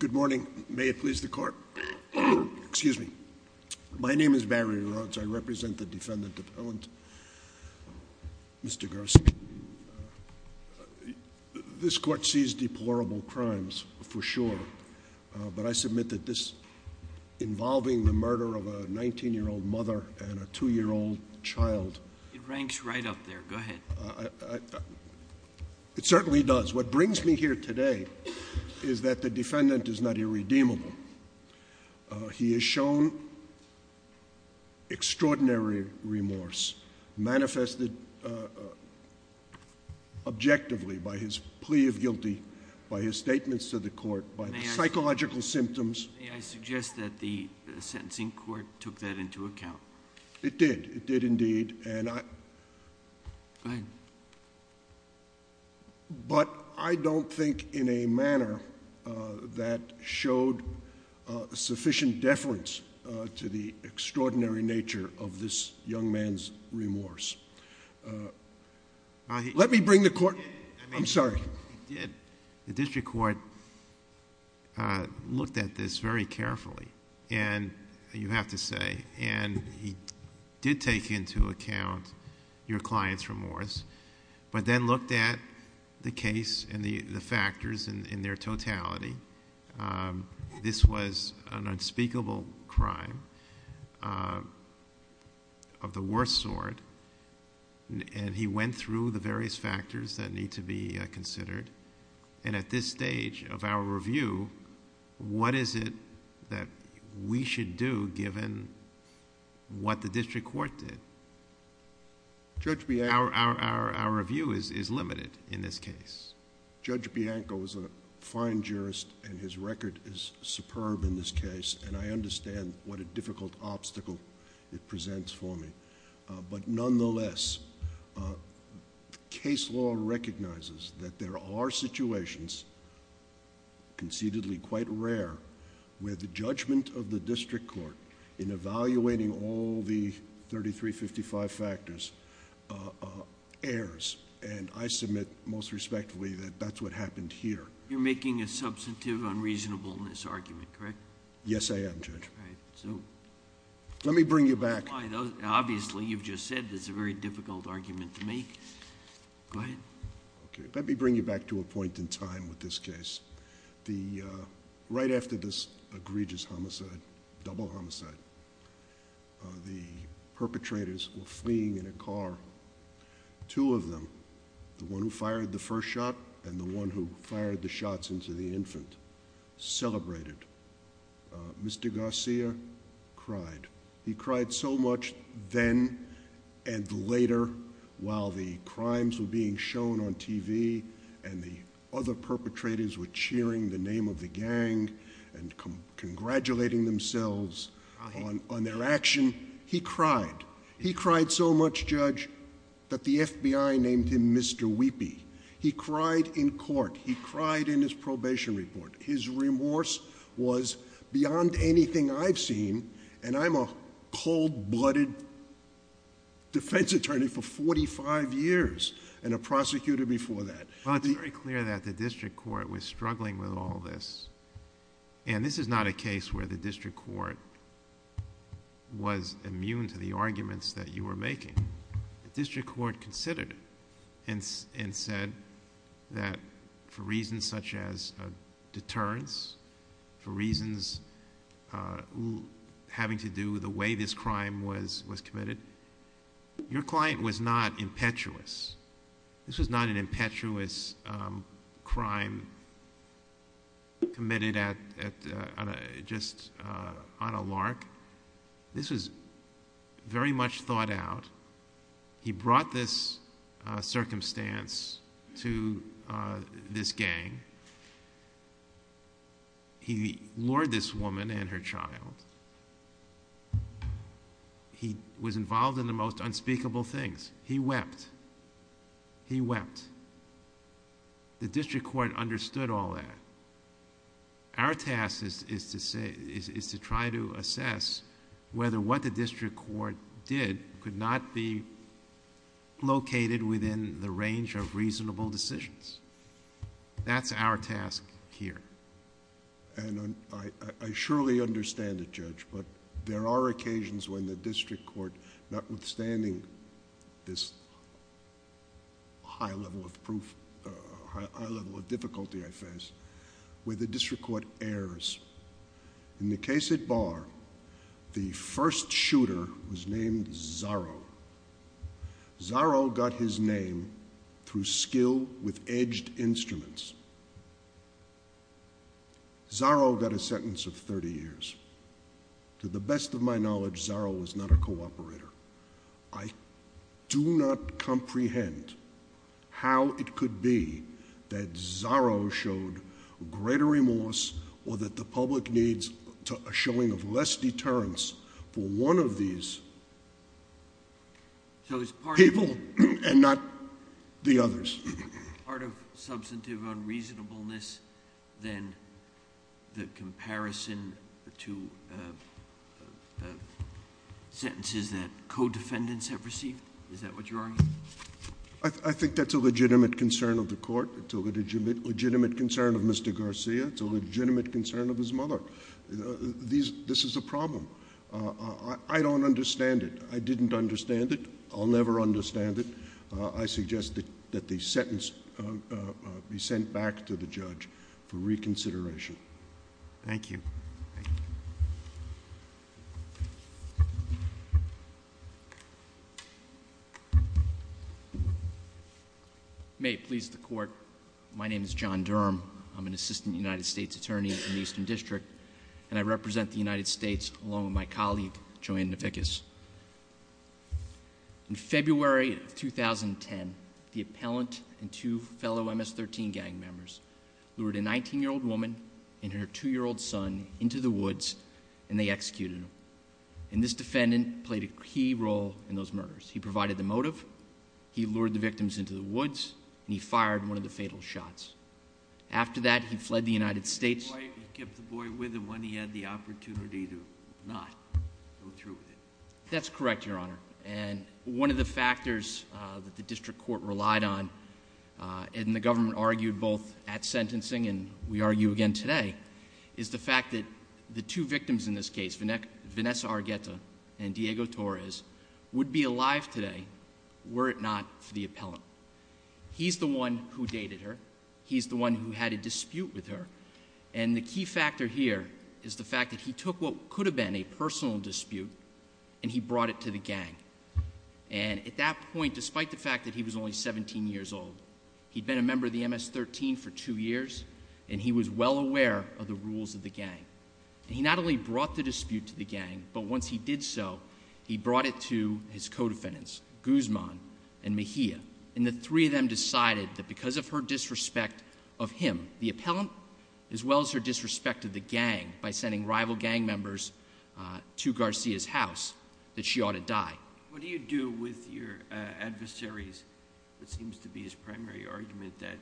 Good morning. May it please the Court. My name is Barry Rhodes. I represent the defendant appellant, Mr. Garcia. This Court sees deplorable crimes for sure, but I submit that this involving the murder of a 19-year-old mother and a 2-year-old child... It ranks right up there. Go ahead. It certainly does. What brings me here today is that the defendant is not irredeemable. He has shown extraordinary remorse manifested objectively by his plea of guilty, by his statements to the Court, by the psychological symptoms. May I suggest that the sentencing court took that into account? It did. It did indeed. Go ahead. But I don't think in a manner that showed sufficient deference to the extraordinary nature of this young man's remorse. Let me bring the Court... I'm sorry. The district court looked at this very carefully, you have to say, and he did take into account your client's remorse, but then looked at the case and the factors in their totality. This was an unspeakable crime of the worst sort, and he went through the various factors that need to be considered. At this stage of our review, what is it that we should do given what the district court did? Judge Bianco... Our review is limited in this case. Judge Bianco is a fine jurist, and his record is superb in this case, and I understand what a difficult obstacle it presents for me. But nonetheless, case law recognizes that there are situations, concededly quite rare, where the judgment of the district court in evaluating all the 3355 factors errs. And I submit most respectfully that that's what happened here. You're making a substantive unreasonableness argument, correct? Yes, I am, Judge. All right. So... Let me bring you back... Obviously, you've just said it's a very difficult argument to make. Go ahead. Okay. Let me bring you back to a point in time with this case. Right after this egregious homicide, double homicide, the perpetrators were fleeing in a car. Two of them, the one who fired the first shot and the one who fired the shots into the infant, celebrated. Mr. Garcia cried. He cried so much then and later while the crimes were being shown on TV and the other perpetrators were cheering the name of the gang and congratulating themselves on their action. He cried. He cried so much, Judge, that the FBI named him Mr. Weepy. He cried in court. He cried in his probation report. His remorse was beyond anything I've seen. And I'm a cold-blooded defense attorney for forty-five years and a prosecutor before that. Well, it's very clear that the district court was struggling with all this. And this is not a case where the district court was immune to the arguments that you were making. The district court considered it and said that for reasons such as a deterrence, for reasons having to do with the way this crime was committed, your client was not impetuous. This was not an impetuous crime committed just on a lark. This was very much thought out. He brought this circumstance to this gang. He lured this woman and her child. He was involved in the most unspeakable things. He wept. He wept. The district court understood all that. Our task is to try to assess whether what the district court did could not be located within the range of reasonable decisions. That's our task here. And I surely understand it, Judge, but there are occasions when the district court, notwithstanding this high level of difficulty I face, where the district court errs. In the case at Barr, the first shooter was named Zorro. Zorro got his name through skill with edged instruments. Zorro got a sentence of 30 years. To the best of my knowledge, Zorro was not a cooperator. I do not comprehend how it could be that Zorro showed greater remorse or that the public needs a showing of less deterrence for one of these people and not the others. Part of substantive unreasonableness than the comparison to sentences that co-defendants have received? Is that what you're arguing? I think that's a legitimate concern of the court. It's a legitimate concern of Mr. Garcia. It's a legitimate concern of his mother. This is a problem. I don't understand it. I didn't understand it. I'll never understand it. I suggest that the sentence be sent back to the judge for reconsideration. Thank you. May it please the Court. My name is John Durham. I'm an assistant United States attorney in the Eastern District, and I represent the United States along with my colleague, Joanne Navickas. In February of 2010, the appellant and two fellow MS-13 gang members lured a 19-year-old woman and her 2-year-old son into the woods, and they executed them. And this defendant played a key role in those murders. He provided the motive. He lured the victims into the woods. And he fired one of the fatal shots. After that, he fled the United States. He kept the boy with him when he had the opportunity to not go through with it. That's correct, Your Honor. And one of the factors that the district court relied on and the government argued both at sentencing and we argue again today is the fact that the two victims in this case, Vanessa Argueta and Diego Torres, would be alive today were it not for the appellant. He's the one who dated her. He's the one who had a dispute with her. And the key factor here is the fact that he took what could have been a personal dispute and he brought it to the gang. And at that point, despite the fact that he was only 17 years old, he'd been a member of the MS-13 for two years, and he was well aware of the rules of the gang. He not only brought the dispute to the gang, but once he did so, he brought it to his co-defendants, Guzman and Mejia. And the three of them decided that because of her disrespect of him, the appellant, as well as her disrespect of the gang by sending rival gang members to Garcia's house, that she ought to die. What do you do with your adversaries? It seems to be his primary argument that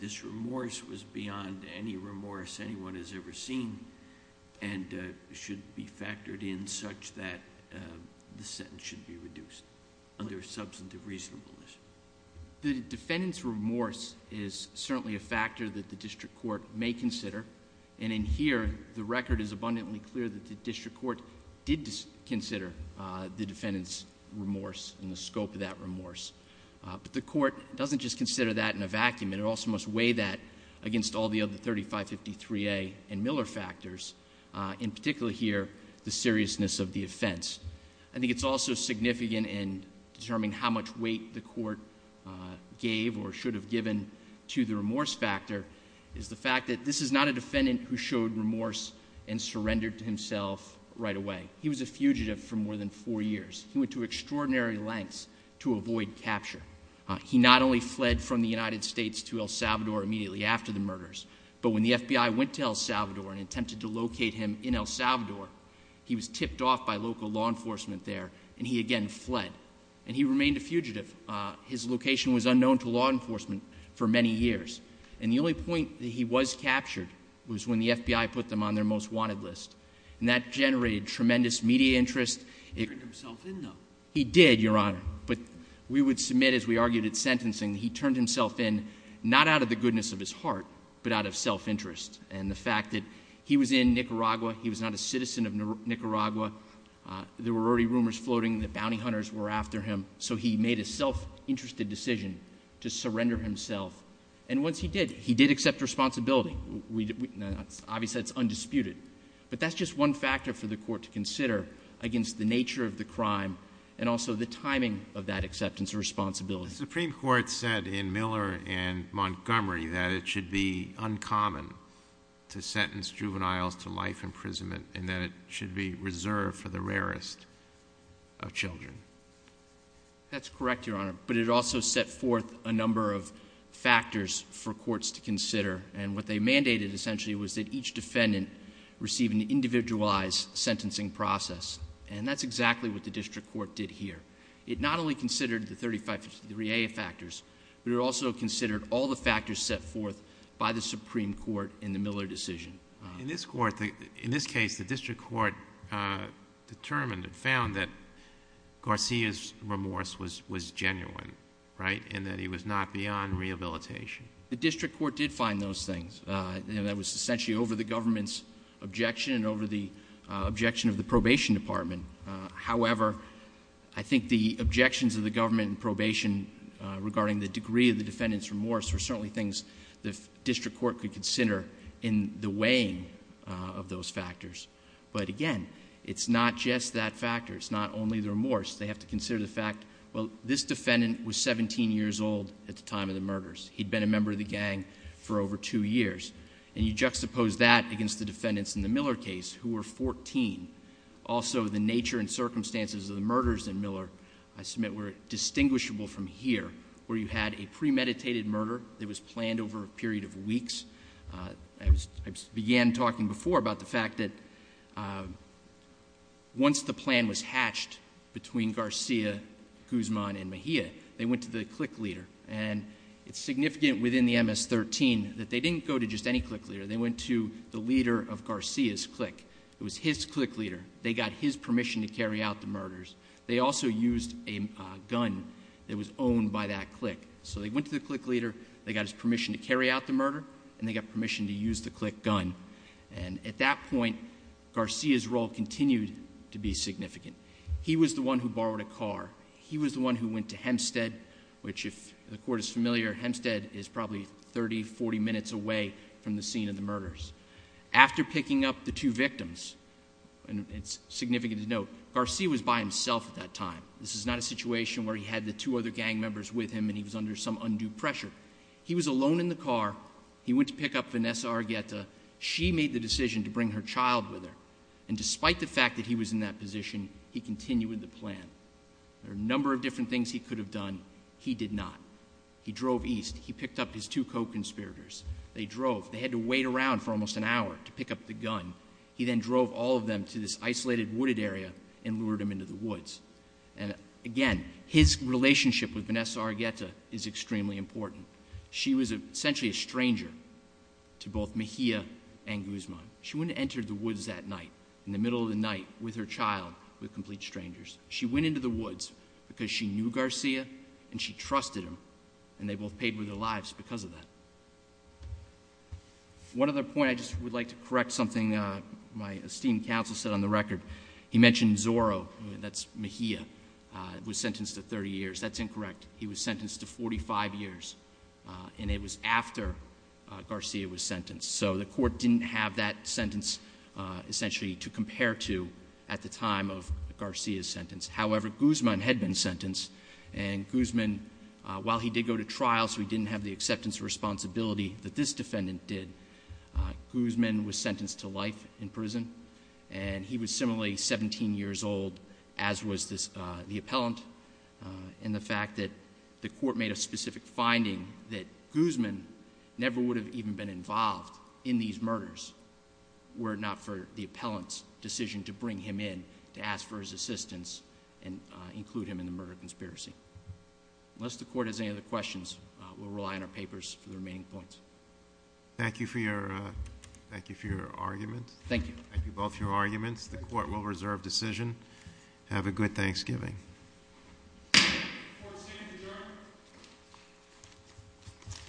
this remorse was beyond any remorse anyone has ever seen and should be factored in such that the sentence should be reduced under substantive reasonableness. The defendant's remorse is certainly a factor that the district court may consider. And in here, the record is abundantly clear that the district court did consider the defendant's remorse and the scope of that remorse. But the court doesn't just consider that in a vacuum. It also must weigh that against all the other 3553A and Miller factors, in particular here, the seriousness of the offense. I think it's also significant in determining how much weight the court gave or should have given to the remorse factor is the fact that this is not a defendant who showed remorse and surrendered to himself right away. He was a fugitive for more than four years. He went to extraordinary lengths to avoid capture. He not only fled from the United States to El Salvador immediately after the murders, but when the FBI went to El Salvador and attempted to locate him in El Salvador, he was tipped off by local law enforcement there, and he again fled. And he remained a fugitive. His location was unknown to law enforcement for many years. And the only point that he was captured was when the FBI put them on their most wanted list. And that generated tremendous media interest. He turned himself in, though. He did, Your Honor. But we would submit, as we argued at sentencing, he turned himself in not out of the goodness of his heart, but out of self-interest and the fact that he was in Nicaragua, he was not a citizen of Nicaragua, there were already rumors floating that bounty hunters were after him, so he made a self-interested decision to surrender himself. And once he did, he did accept responsibility. Obviously, that's undisputed. But that's just one factor for the court to consider against the nature of the crime and also the timing of that acceptance of responsibility. The Supreme Court said in Miller and Montgomery that it should be uncommon to sentence juveniles to life imprisonment and that it should be reserved for the rarest of children. That's correct, Your Honor. But it also set forth a number of factors for courts to consider. And what they mandated, essentially, was that each defendant receive an individualized sentencing process. And that's exactly what the district court did here. It not only considered the 35-53A factors, but it also considered all the factors set forth by the Supreme Court in the Miller decision. In this case, the district court determined and found that Garcia's remorse was genuine, right, and that he was not beyond rehabilitation. The district court did find those things. And that was essentially over the government's objection and over the objection of the probation department. However, I think the objections of the government in probation regarding the degree of the defendant's remorse were certainly things the district court could consider in the weighing of those factors. But again, it's not just that factor. It's not only the remorse. They have to consider the fact, well, this defendant was 17 years old at the time of the murders. He'd been a member of the gang for over two years. And you juxtapose that against the defendants in the Miller case who were 14. Also, the nature and circumstances of the murders in Miller, I submit, were distinguishable from here where you had a premeditated murder that was planned over a period of weeks. I began talking before about the fact that once the plan was hatched between Garcia, Guzman, and Mejia, they went to the clique leader. And it's significant within the MS-13 that they didn't go to just any clique leader. They went to the leader of Garcia's clique. It was his clique leader. They got his permission to carry out the murders. They also used a gun that was owned by that clique. So they went to the clique leader, they got his permission to carry out the murder, and they got permission to use the clique gun. And at that point, Garcia's role continued to be significant. He was the one who borrowed a car. He was the one who went to Hempstead, which if the court is familiar, Hempstead is probably 30, 40 minutes away from the scene of the murders. After picking up the two victims, and it's significant to note, Garcia was by himself at that time. This is not a situation where he had the two other gang members with him and he was under some undue pressure. He was alone in the car. He went to pick up Vanessa Argueta. She made the decision to bring her child with her. And despite the fact that he was in that position, he continued with the plan. There are a number of different things he could have done. He did not. He drove east. He picked up his two co-conspirators. They drove. They had to wait around for almost an hour to pick up the gun. He then drove all of them to this isolated wooded area and lured them into the woods. And, again, his relationship with Vanessa Argueta is extremely important. She was essentially a stranger to both Mejia and Guzman. She wouldn't have entered the woods that night, in the middle of the night, with her child, with complete strangers. She went into the woods because she knew Garcia and she trusted him, and they both paid with their lives because of that. One other point I just would like to correct something my esteemed counsel said on the record. He mentioned Zorro, that's Mejia, was sentenced to 30 years. That's incorrect. He was sentenced to 45 years, and it was after Garcia was sentenced. So the court didn't have that sentence essentially to compare to at the time of Garcia's sentence. However, Guzman had been sentenced, and Guzman, while he did go to trial, so he didn't have the acceptance of responsibility that this defendant did, Guzman was sentenced to life in prison. And he was similarly 17 years old, as was the appellant, and the fact that the court made a specific finding that Guzman never would have even been involved in these murders, were it not for the appellant's decision to bring him in to ask for his assistance and include him in the murder conspiracy. Unless the court has any other questions, we'll rely on our papers for the remaining points. Thank you for your argument. Thank you. Thank you both for your arguments. The court will reserve decision. Have a good Thanksgiving. Court is adjourned.